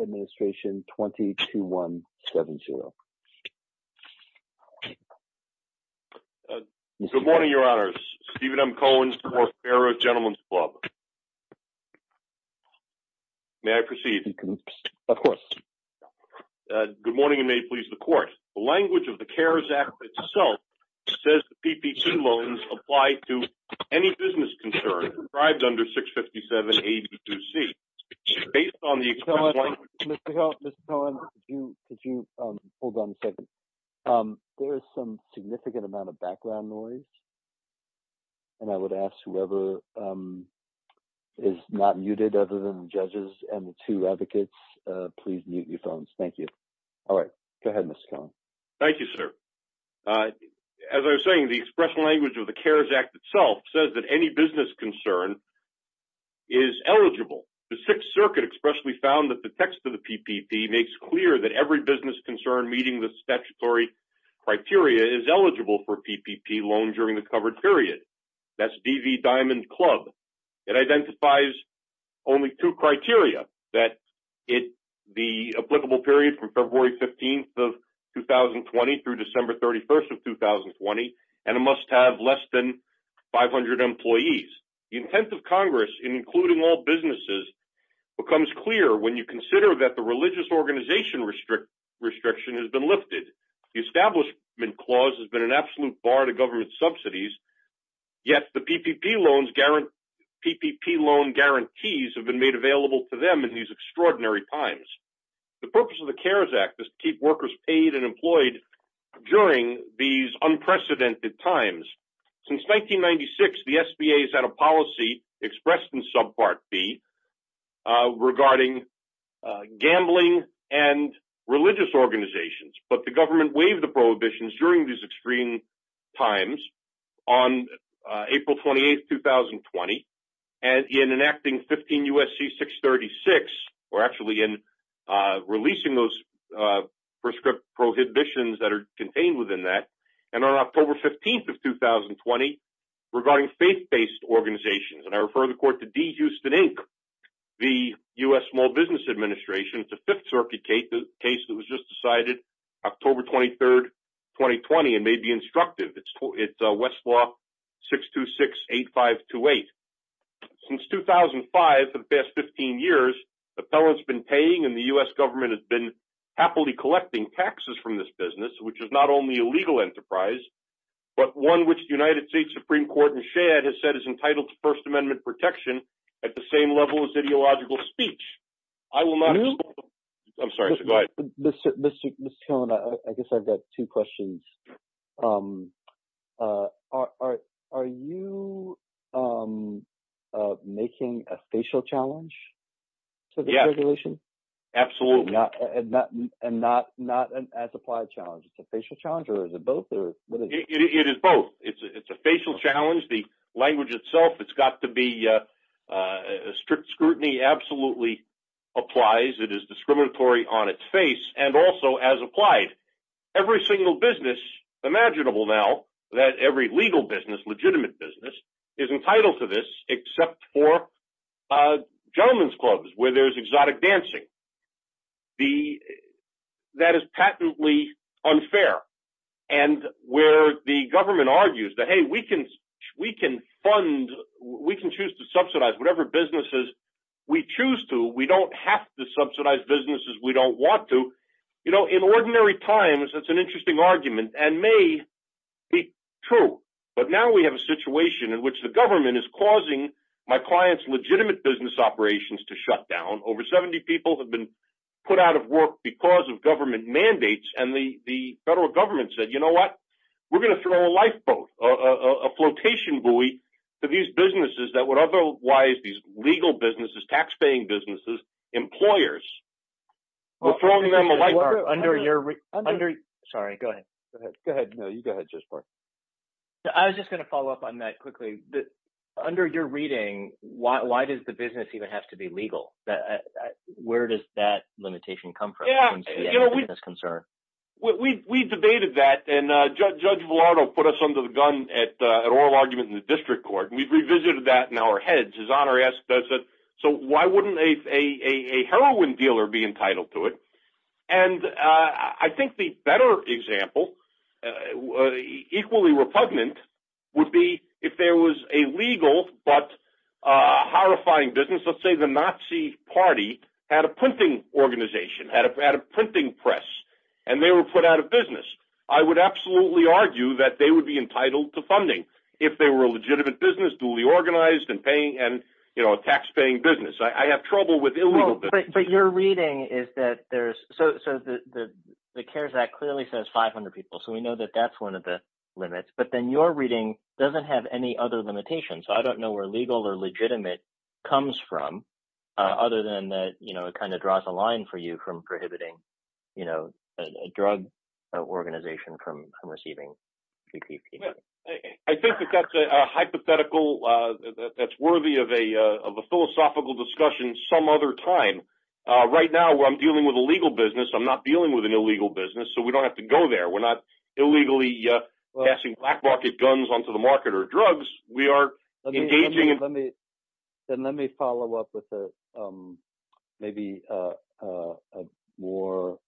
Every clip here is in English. Administration 22170. Good morning, Your Honors. Stephen M. Cohen from Orfera Gentlemen's Club. May I proceed? Of course. Good morning and may it please the Court. The language of the CARES Act itself says the PP2 loans apply to any business concern prescribed under 657-82C. Based on the... Mr. Cohen, Mr. Cohen, could you hold on a second? There is some significant amount of background noise and I would ask whoever is not muted other than the judges and the two As I was saying, the express language of the CARES Act itself says that any business concern is eligible. The Sixth Circuit expressly found that the text of the PPP makes clear that every business concern meeting the statutory criteria is eligible for PPP loan during the covered period. That's DV Diamond Club. It identifies only two criteria, that it... the applicable period from February 15th of 2020 through December 31st of 2020, and it must have less than 500 employees. The intent of Congress in including all businesses becomes clear when you consider that the religious organization restriction has been lifted. The establishment clause has been an absolute bar to government subsidies, yet the PPP loan guarantees have been made available to them in these extraordinary times. The purpose of the CARES Act is to keep workers paid and employed during these unprecedented times. Since 1996, the SBA has had a policy expressed in subpart B regarding gambling and religious organizations, but the government waived the prohibitions during these extreme times on April 28th, 2020, and in enacting 15 U.S.C. 636, or actually in releasing those prescribed prohibitions that are contained within that, and on October 15th of 2020, regarding faith-based organizations, and I refer the court to D. Houston, Inc., the U.S. Small Business Administration. It's a Fifth Circuit case that was just decided October 23rd, 2020, and may be instructive. It's Westlaw 6268528. Since 2005, for the past 15 years, the felons have been paying, and the U.S. government has been happily collecting taxes from this business, which is not only a legal enterprise, but one which the United States Supreme Court in Shad has said is entitled to First Amendment protection at the same level as ideological speech. I will not... I'm sorry. Go ahead. Mr. Cohen, I guess I've got two questions. Are you making a facial challenge to the regulation? Absolutely. And not an as-applied challenge. It's a facial challenge, or is it both? It is both. It's a facial challenge. The language itself, it's got to be... Strict scrutiny absolutely applies. It is discriminatory on its face, and also as applied. Every single business, imaginable now, that every legal business, legitimate business, is entitled to this, except for gentlemen's clubs where there's exotic dancing. The... That is patently unfair. And where the government argues that, hey, we can fund, we can choose to subsidize whatever businesses we choose to. We don't have to subsidize businesses we don't want to. You know, in ordinary times, that's an interesting argument, and may be true. But now we have a situation in which the government is causing my clients' legitimate business operations to shut down. Over 70 people have been put out of work because of government mandates, and the federal government said, you know what? We're going to throw a lifeboat, a flotation buoy to these businesses that would otherwise, these legal businesses, taxpaying businesses, employers. We're throwing them a lifeboat. Under your... Sorry, go ahead. Go ahead. No, you go ahead, Jasper. I was just going to follow up on that quickly. Under your reading, why does the business even have to be legal? Where does that limitation come from? Yeah, you know, we... As far as I'm concerned. Well, we debated that, and Judge Velardo put us under the gun at an oral argument in the district court, and we revisited that in our heads. His Honor asked us, so why wouldn't a heroin dealer be entitled to it? And I think the better example, equally repugnant, would be if there was a legal, but horrifying business. Let's say the Nazi party had a printing organization, had a printing press, and they were put out of business. I would absolutely argue that they would be entitled to funding if they were a legitimate business, duly organized, and paying, and, you know, a taxpaying business. I have trouble with illegal businesses. But your reading is that there's... So the CARES Act clearly says 500 people, so we know that that's one of the limits, but then your reading doesn't have any other limitations. So I don't know where legal or legitimate comes from, other than that, you know, it kind of draws a line for you from prohibiting, you know, a drug organization from receiving... I think that that's a hypothetical that's worthy of a philosophical discussion some other time. Right now, I'm dealing with a legal business. I'm not dealing with an illegal business, so we don't have to go there. We're not illegally passing black market guns onto the market or drugs. We are engaging in... Let me follow up with maybe a more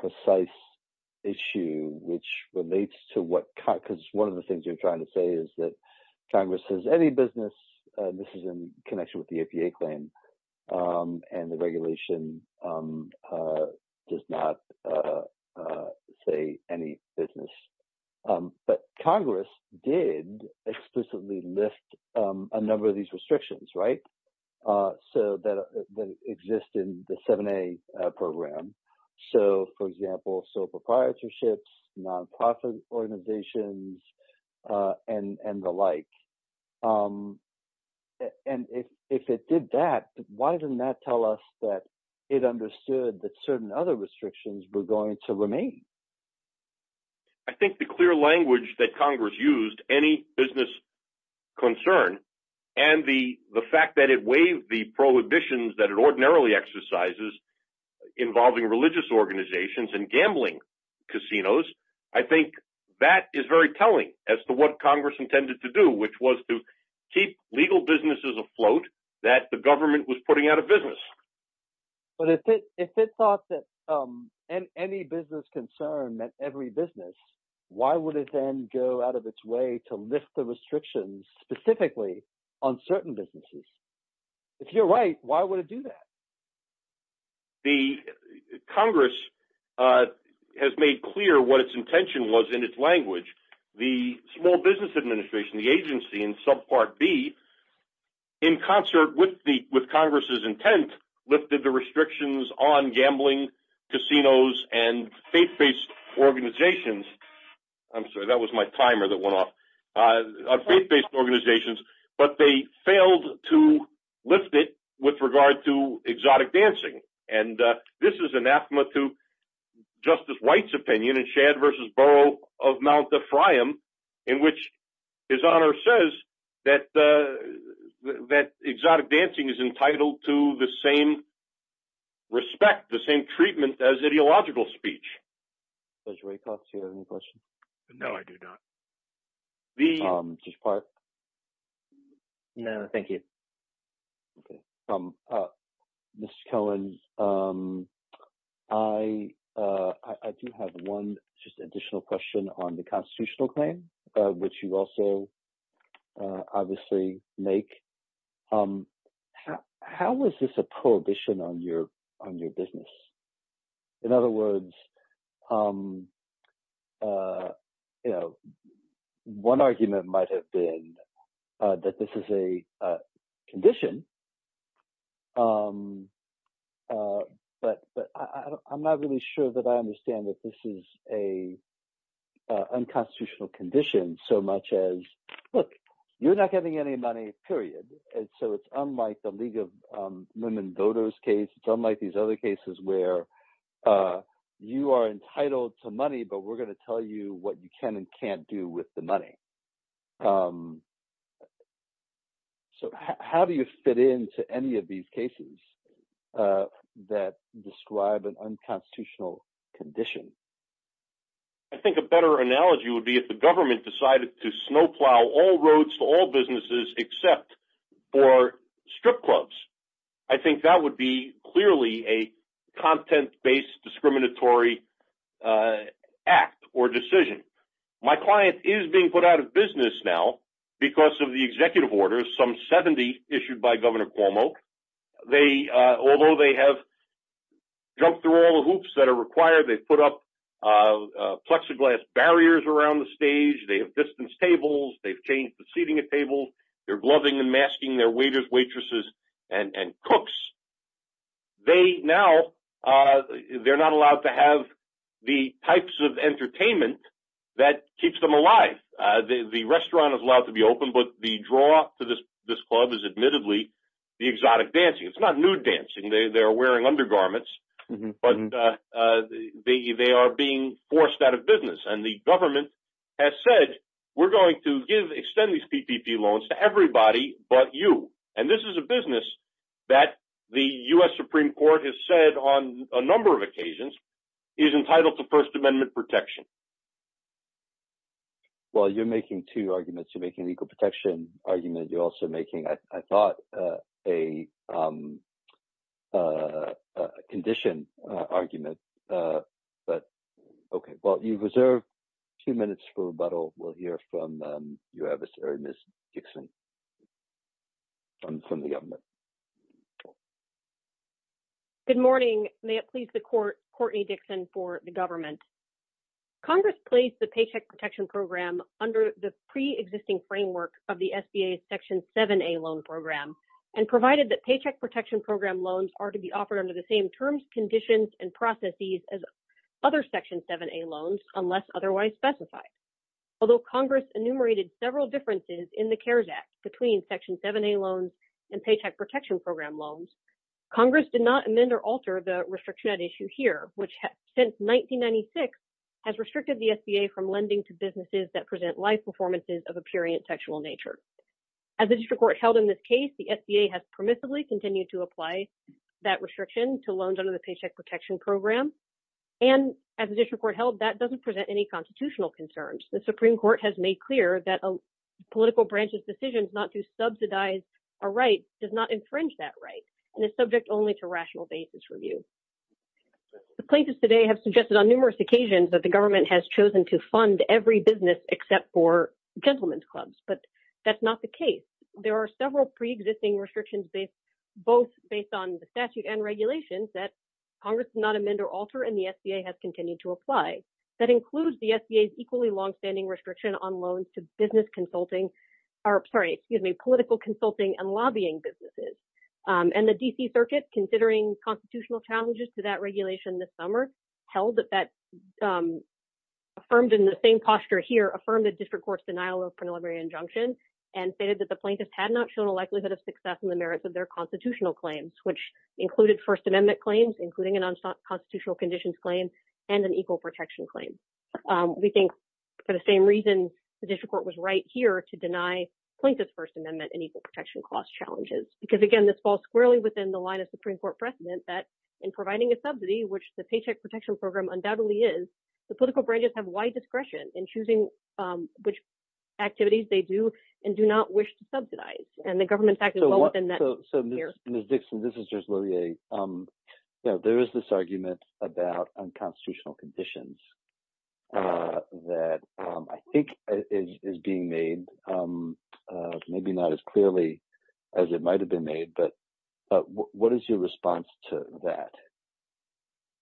precise issue, which relates to what... Because one of the things you're trying to say is that Congress has any business. This is in connection with the APA claim, and the regulation does not say any business. But Congress did explicitly lift a number of these restrictions, right, that exist in the 7A program. So, for example, so proprietorships, non-profit organizations, and the like. And if it did that, why didn't that tell us that it understood that certain other restrictions were going to remain? I think the clear language that Congress used, any business concern, and the fact that it waived the prohibitions that it ordinarily exercises involving religious organizations and gambling casinos, I think that is very telling as to what Congress intended to do, which was to keep legal businesses afloat that the government was putting out of business. But if it thought that any business concern meant every business, why would it then go out of its way to lift the restrictions specifically on certain businesses? If you're right, why would do that? The Congress has made clear what its intention was in its language. The Small Business Administration, the agency in subpart B, in concert with Congress's intent, lifted the restrictions on gambling casinos and faith-based organizations. I'm sorry, that was my timer that but they failed to lift it with regard to exotic dancing. And this is anathema to Justice White's opinion in Shadd v. Burrough of Mount Ephraim, in which his honor says that exotic dancing is entitled to the same respect, the same treatment as ideological speech. Judge Rakoff, do you have any questions? No, I do not. Judge Park? No, thank you. Okay. Mr. Cohen, I do have one just additional question on the constitutional claim, which you also obviously make. How is this a prohibition on your business? In other words, you know, one argument might have been that this is a condition. But I'm not really sure that I understand that this is an unconstitutional condition so much as, look, you're not getting any money, period. And so it's unlike the League of Women Voters case, unlike these other cases where you are entitled to money, but we're going to tell you what you can and can't do with the money. So how do you fit into any of these cases that describe an unconstitutional condition? I think a better analogy would be if the government decided to snowplow all roads to businesses except for strip clubs. I think that would be clearly a content-based discriminatory act or decision. My client is being put out of business now because of the executive orders, some 70 issued by Governor Cuomo. Although they have jumped through all the hoops that are required, they've put up plexiglass barriers around the stage, they have distance tables, they've changed the seating at tables, they're gloving and masking their waiters, waitresses, and cooks. Now they're not allowed to have the types of entertainment that keeps them alive. The restaurant is allowed to be open, but the draw to this club is admittedly the exotic dancing. It's not nude dancing, they're wearing undergarments, but they are being forced out of business. The government has said, we're going to extend these PPP loans to everybody but you. This is a business that the U.S. Supreme Court has said on a number of occasions is entitled to First Amendment protection. You're making two arguments. You're making a legal protection argument. You're also making, I thought, a condition argument. Okay, well, you've reserved a few minutes for rebuttal. We'll hear from Ms. Dixon from the government. Good morning. May it please the Court, Courtney Dixon for the government. Congress placed the Paycheck Protection Program under the pre-existing framework of the SBA's Section 7A loan program and provided that Paycheck Protection Program loans are to be offered under the same terms, conditions, and processes as other Section 7A loans unless otherwise specified. Although Congress enumerated several differences in the CARES Act between Section 7A loans and Paycheck Protection Program loans, Congress did not amend or alter the restriction at issue here, which since 1996 has restricted the SBA from lending to businesses that present live performances of a purient textual nature. As the district court held in this case, the SBA has permissively continued to apply that restriction to loans under the Paycheck Protection Program. And as the district court held, that doesn't present any constitutional concerns. The Supreme Court has made clear that a political branch's decision not to subsidize a right does not infringe that right and is subject only to rational basis review. The plaintiffs today have suggested on numerous occasions that the government has chosen to fund every business except for gentlemen's clubs, but that's not the case. There are several pre-existing restrictions both based on the statute and regulations that Congress did not amend or alter and the SBA has continued to apply. That includes the SBA's equally long-standing restriction on loans to business consulting or, sorry, excuse me, political consulting and lobbying businesses. And the D.C. Circuit, considering constitutional challenges to that posture here, affirmed the district court's denial of preliminary injunction and stated that the plaintiffs had not shown a likelihood of success in the merits of their constitutional claims, which included First Amendment claims, including an unconstitutional conditions claim, and an equal protection claim. We think for the same reason the district court was right here to deny plaintiffs' First Amendment and equal protection cost challenges. Because again, this falls squarely within the line of Supreme Court precedent that in providing a subsidy, which the Paycheck Protection Program undoubtedly is, the political branches have wide discretion in choosing which activities they do and do not wish to subsidize. And the government fact is well within that sphere. So Ms. Dixon, this is just Lillie. There is this argument about unconstitutional conditions that I think is being made, maybe not as clearly as it might have been made, but what is your response to that?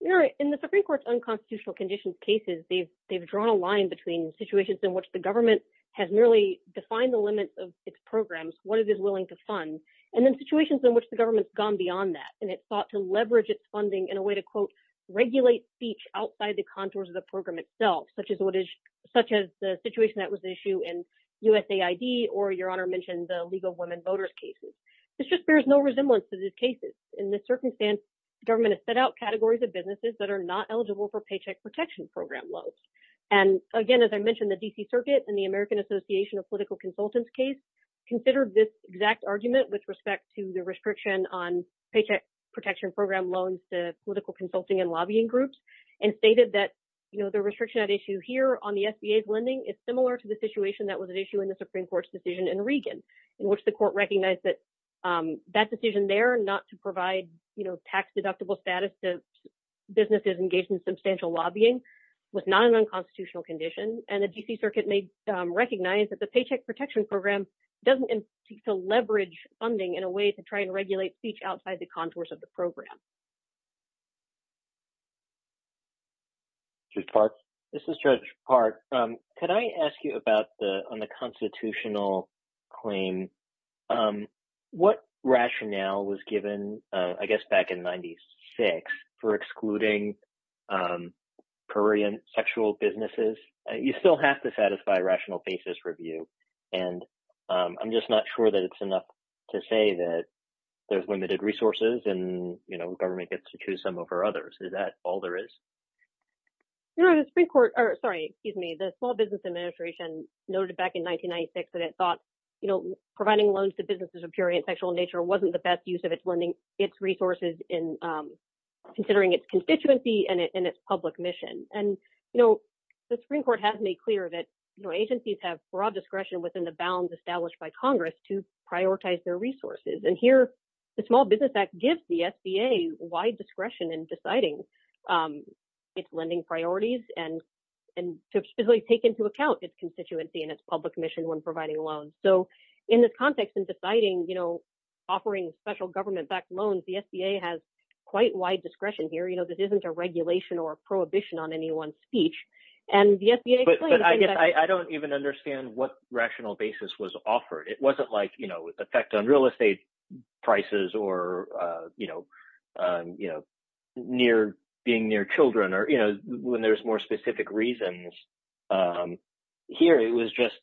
Yeah, in the Supreme Court's unconstitutional conditions cases, they've drawn a line between situations in which the government has merely defined the limits of its programs, what it is willing to fund, and then situations in which the government's gone beyond that, and it sought to leverage its funding in a way to, quote, regulate speech outside the contours of the program itself, such as the situation that was the issue in USAID or, Your Honor mentioned, the League of Women Voters cases. This just bears no resemblance to these cases. In this circumstance, government has set out categories of businesses that are not eligible for Paycheck Protection Program loans. And again, as I mentioned, the D.C. Circuit and the American Association of Political Consultants case considered this exact argument with respect to the restriction on Paycheck Protection Program loans to political consulting and lobbying groups and stated that, you know, the restriction at issue here on the SBA's lending is similar to the situation that was at issue in the Supreme Court's decision in Regan, in which the court recognized that that decision there not to provide, you know, tax-deductible status to businesses engaged in substantial lobbying was not an unconstitutional condition, and the D.C. Circuit recognized that the Paycheck Protection Program doesn't seek to leverage funding in a way to try and regulate speech outside the contours of the program. Judge Park? This is Judge Park. Could I ask you about the, on the constitutional claim, what rationale was given, I guess, back in 96 for excluding Korean sexual businesses? You still have to satisfy a rational basis review, and I'm just not sure that it's enough to say that there's to choose some over others. Is that all there is? You know, the Supreme Court, or sorry, excuse me, the Small Business Administration noted back in 1996 that it thought, you know, providing loans to businesses of Korean sexual nature wasn't the best use of its lending, its resources in, considering its constituency and its public mission. And, you know, the Supreme Court has made clear that, you know, agencies have broad discretion within the bounds established by wide discretion in deciding its lending priorities and to specifically take into account its constituency and its public mission when providing loans. So, in this context, in deciding, you know, offering special government-backed loans, the SBA has quite wide discretion here. You know, this isn't a regulation or a prohibition on anyone's speech, and the SBA... But I guess I don't even understand what rational basis was offered. It wasn't like, you know, effect on real estate prices or, you know, near, being near children or, you know, when there's more specific reasons. Here, it was just,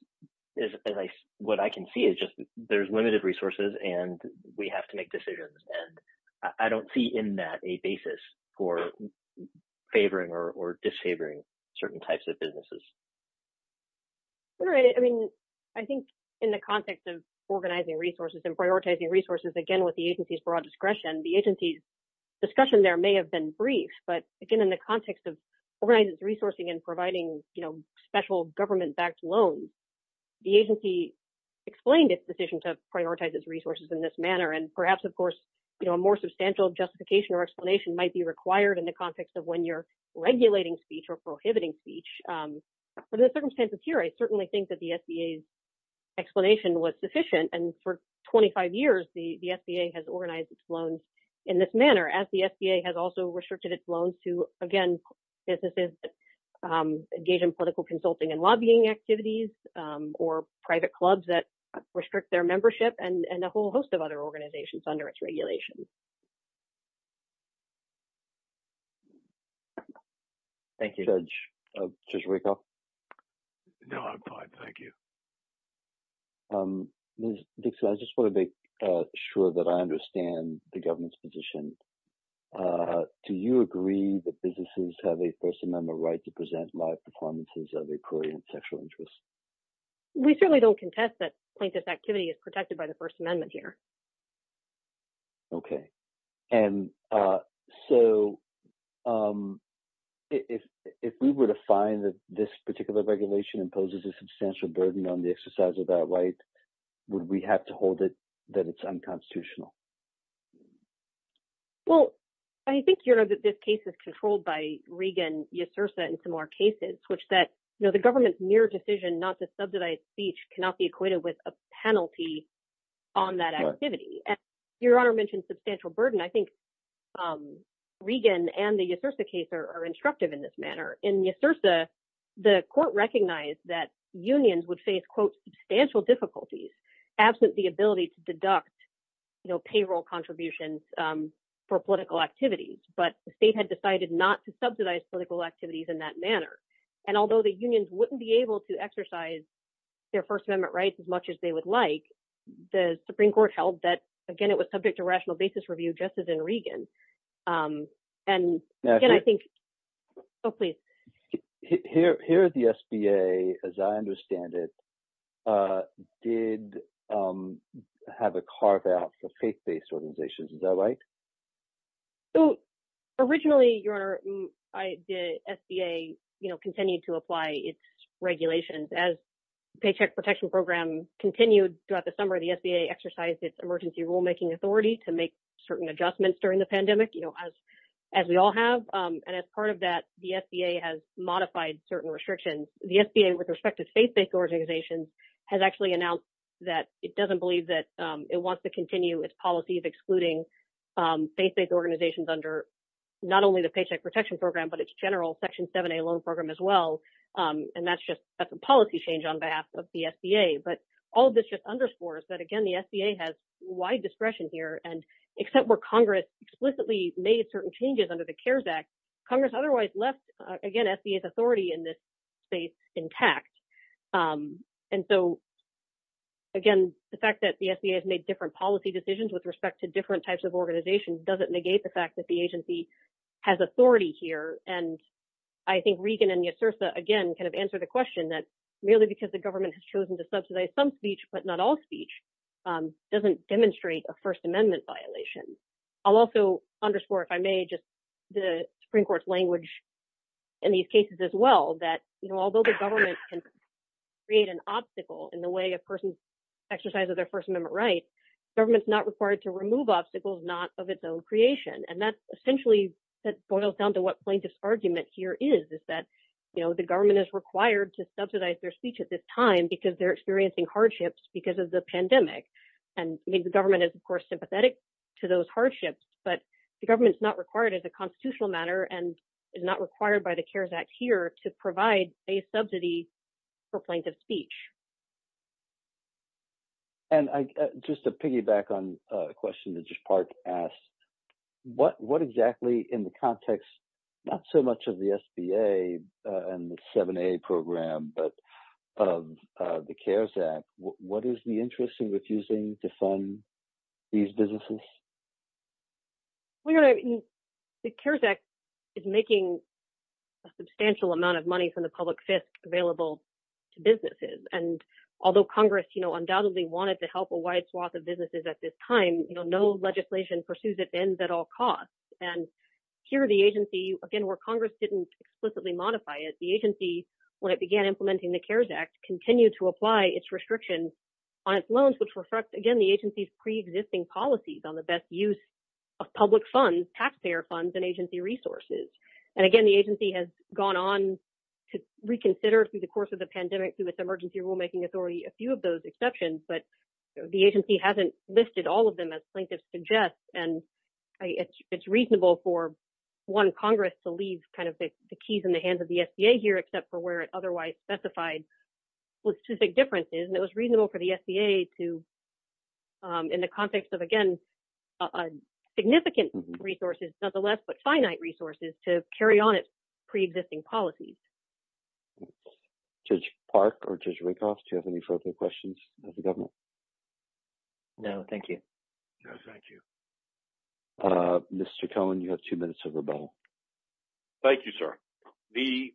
as I, what I can see is just there's limited resources and we have to make decisions. And I don't see in that a basis for favoring or disfavoring certain types of businesses. All right. I mean, I think in the context of organizing resources and prioritizing resources, again, with the agency's broad discretion, the agency's discussion there may have been brief, but again, in the context of organizing its resourcing and providing, you know, special government-backed loans, the agency explained its decision to prioritize its resources in this manner. And perhaps, of course, you know, a more substantial justification or explanation might be required in the context of when you're regulating speech or prohibiting speech under the circumstances here. I certainly think that the SBA's explanation was sufficient. And for 25 years, the SBA has organized its loans in this manner as the SBA has also restricted its loans to, again, businesses that engage in political consulting and lobbying activities or private clubs that restrict their membership and a whole host of other things. No, I'm fine. Thank you. Ms. Dixon, I just want to make sure that I understand the government's position. Do you agree that businesses have a First Amendment right to present live performances of a query in sexual interest? We certainly don't contest that plaintiff's activity is protected by the First Amendment here. Okay. And so, if we were to find that this particular regulation imposes a substantial burden on the exercise of that right, would we have to hold it that it's unconstitutional? Well, I think, you know, that this case is controlled by Regan, Yesursa, and similar cases, which that, you know, the government's mere decision not subsidize speech cannot be equated with a penalty on that activity. And your Honor mentioned substantial burden. I think Regan and the Yesursa case are instructive in this manner. In Yesursa, the court recognized that unions would face, quote, substantial difficulties absent the ability to deduct, you know, payroll contributions for political activities. But the state had decided not to subsidize political activities in that manner. And although the unions wouldn't be able to exercise their First Amendment rights as much as they would like, the Supreme Court held that, again, it was subject to rational basis review, just as in Regan. And, again, I think, oh, please. Here, the SBA, as I understand it, did have a carve out for faith-based organizations. Is that As paycheck protection program continued throughout the summer, the SBA exercised its emergency rulemaking authority to make certain adjustments during the pandemic, you know, as we all have. And as part of that, the SBA has modified certain restrictions. The SBA, with respect to faith-based organizations, has actually announced that it doesn't believe that it wants to continue its policy of excluding faith-based organizations under not only the Paycheck Protection Program, but its general Section 7A loan program as well. And that's just a policy change on behalf of the SBA. But all of this just underscores that, again, the SBA has wide discretion here. And except where Congress explicitly made certain changes under the CARES Act, Congress otherwise left, again, SBA's authority in this space intact. And so, again, the fact that the SBA has made different policy decisions with respect to different types of organizations doesn't negate the fact that the agency has authority here. And I think Regan and Yasirsa, again, kind of answered the question that merely because the government has chosen to subsidize some speech, but not all speech, doesn't demonstrate a First Amendment violation. I'll also underscore, if I may, just the Supreme Court's language in these cases as well, that, you know, although the government can create an obstacle in the way a person exercises their First Amendment right, government's not required to remove obstacles not of its own creation. And that essentially boils down to what plaintiff's argument here is, is that, you know, the government is required to subsidize their speech at this time because they're experiencing hardships because of the pandemic. And the government is, of course, sympathetic to those hardships, but the government's not required as a constitutional matter and is not required by the CARES Act here to provide a subsidy for plaintiff's speech. And I, just to piggyback on a question that just part asked, what exactly in the context, not so much of the SBA and the 7A program, but of the CARES Act, what is the interest in refusing to fund these businesses? Well, you know, the CARES Act is making a substantial amount of money from the public available to businesses. And although Congress, you know, undoubtedly wanted to help a wide swath of businesses at this time, you know, no legislation pursues it ends at all costs. And here the agency, again, where Congress didn't explicitly modify it, the agency, when it began implementing the CARES Act, continued to apply its restrictions on its loans, which reflects, again, the agency's preexisting policies on the best use of public taxpayer funds and agency resources. And again, the agency has gone on to reconsider through the course of the pandemic, through its emergency rulemaking authority, a few of those exceptions, but the agency hasn't listed all of them as plaintiffs suggest. And it's reasonable for one Congress to leave kind of the keys in the hands of the SBA here, except for where it otherwise specified was too big differences. And it was reasonable for the SBA to, in the context of, again, significant resources, nonetheless, but finite resources to carry on its preexisting policies. Judge Park or Judge Rakoff, do you have any further questions of the government? No, thank you. Thank you. Mr. Cohen, you have two minutes of rebuttal. Thank you, sir. The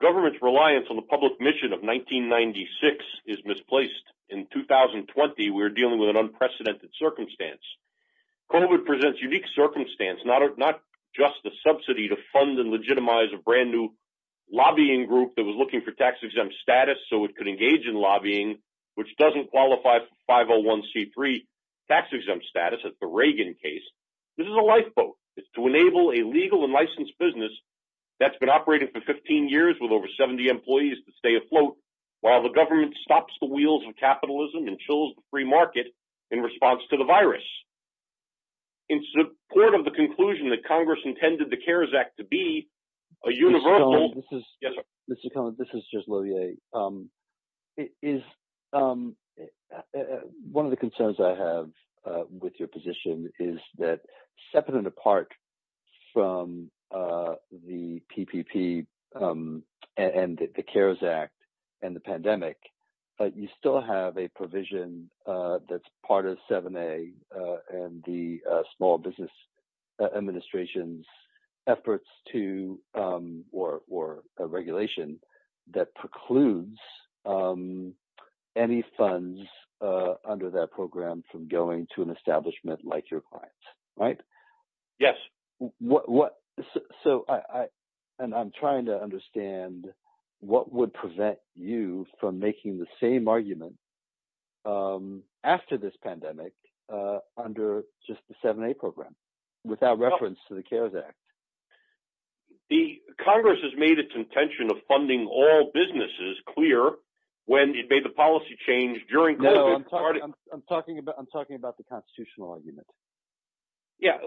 government's reliance on the public mission of 1996 is misplaced. In 2020, we're dealing with an unprecedented circumstance. COVID presents unique circumstance, not just the subsidy to fund and legitimize a brand new lobbying group that was looking for tax-exempt status so it could engage in lobbying, which doesn't qualify for 501c3 tax-exempt status at the Reagan case. This is a lifeboat. It's to enable a legal and licensed business that's been operating for 15 years with over 70 employees to stay afloat while the government stops the capitalism and chills the free market in response to the virus. In support of the conclusion that Congress intended the CARES Act to be a universal... Mr. Cohen, this is just Loewe. One of the concerns I have with your position is that, separate and apart from the PPP and the CARES Act and the pandemic, you still have a provision that's part of 7A and the Small Business Administration's efforts to, or a regulation that precludes any funds under that program from going to an establishment like your clients, right? Yes. So, and I'm trying to understand what would prevent you from making the same argument after this pandemic under just the 7A program without reference to the CARES Act? The Congress has made its intention of funding all businesses clear when it made the policy change during COVID. No, I'm talking about the constitutional argument. Yeah.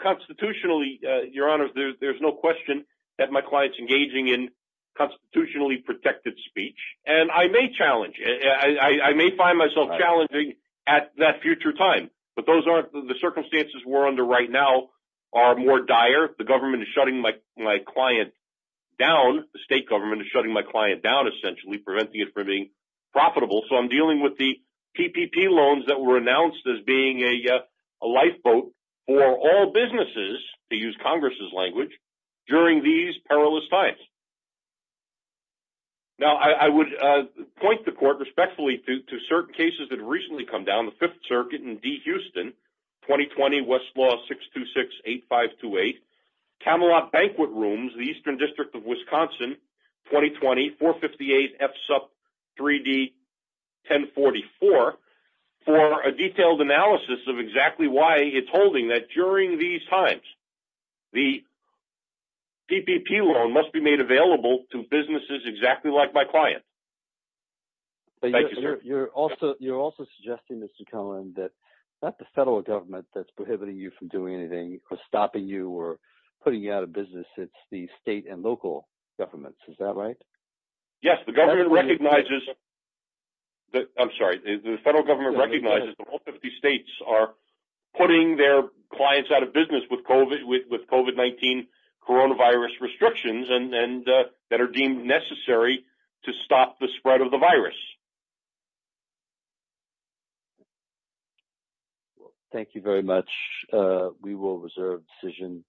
Constitutionally, Your Honor, there's no question that my client's engaging in constitutionally protected speech. And I may challenge, I may find myself challenging at that future time, but those aren't, the circumstances we're under right now are more dire. The government is shutting my client down. The state government is shutting my client down, preventing it from being profitable. So, I'm dealing with the PPP loans that were announced as being a lifeboat for all businesses, to use Congress's language, during these perilous times. Now, I would point the court respectfully to certain cases that have recently come down, the Fifth Circuit in D-Houston, 2020, Westlaw 626-8528, Camelot Banquet Rooms, the Eastern District of Wisconsin, 2020, 458 F-SUP 3D-1044, for a detailed analysis of exactly why it's holding that during these times, the PPP loan must be made available to businesses exactly like my client. Thank you, sir. You're also suggesting, Mr. Cohen, that not the federal government that's prohibiting you from doing anything, or stopping you, or state and local governments, is that right? Yes, the government recognizes, I'm sorry, the federal government recognizes that all 50 states are putting their clients out of business with COVID-19 coronavirus restrictions that are deemed necessary to stop the spread of the virus. Thank you very much. We will reserve decision.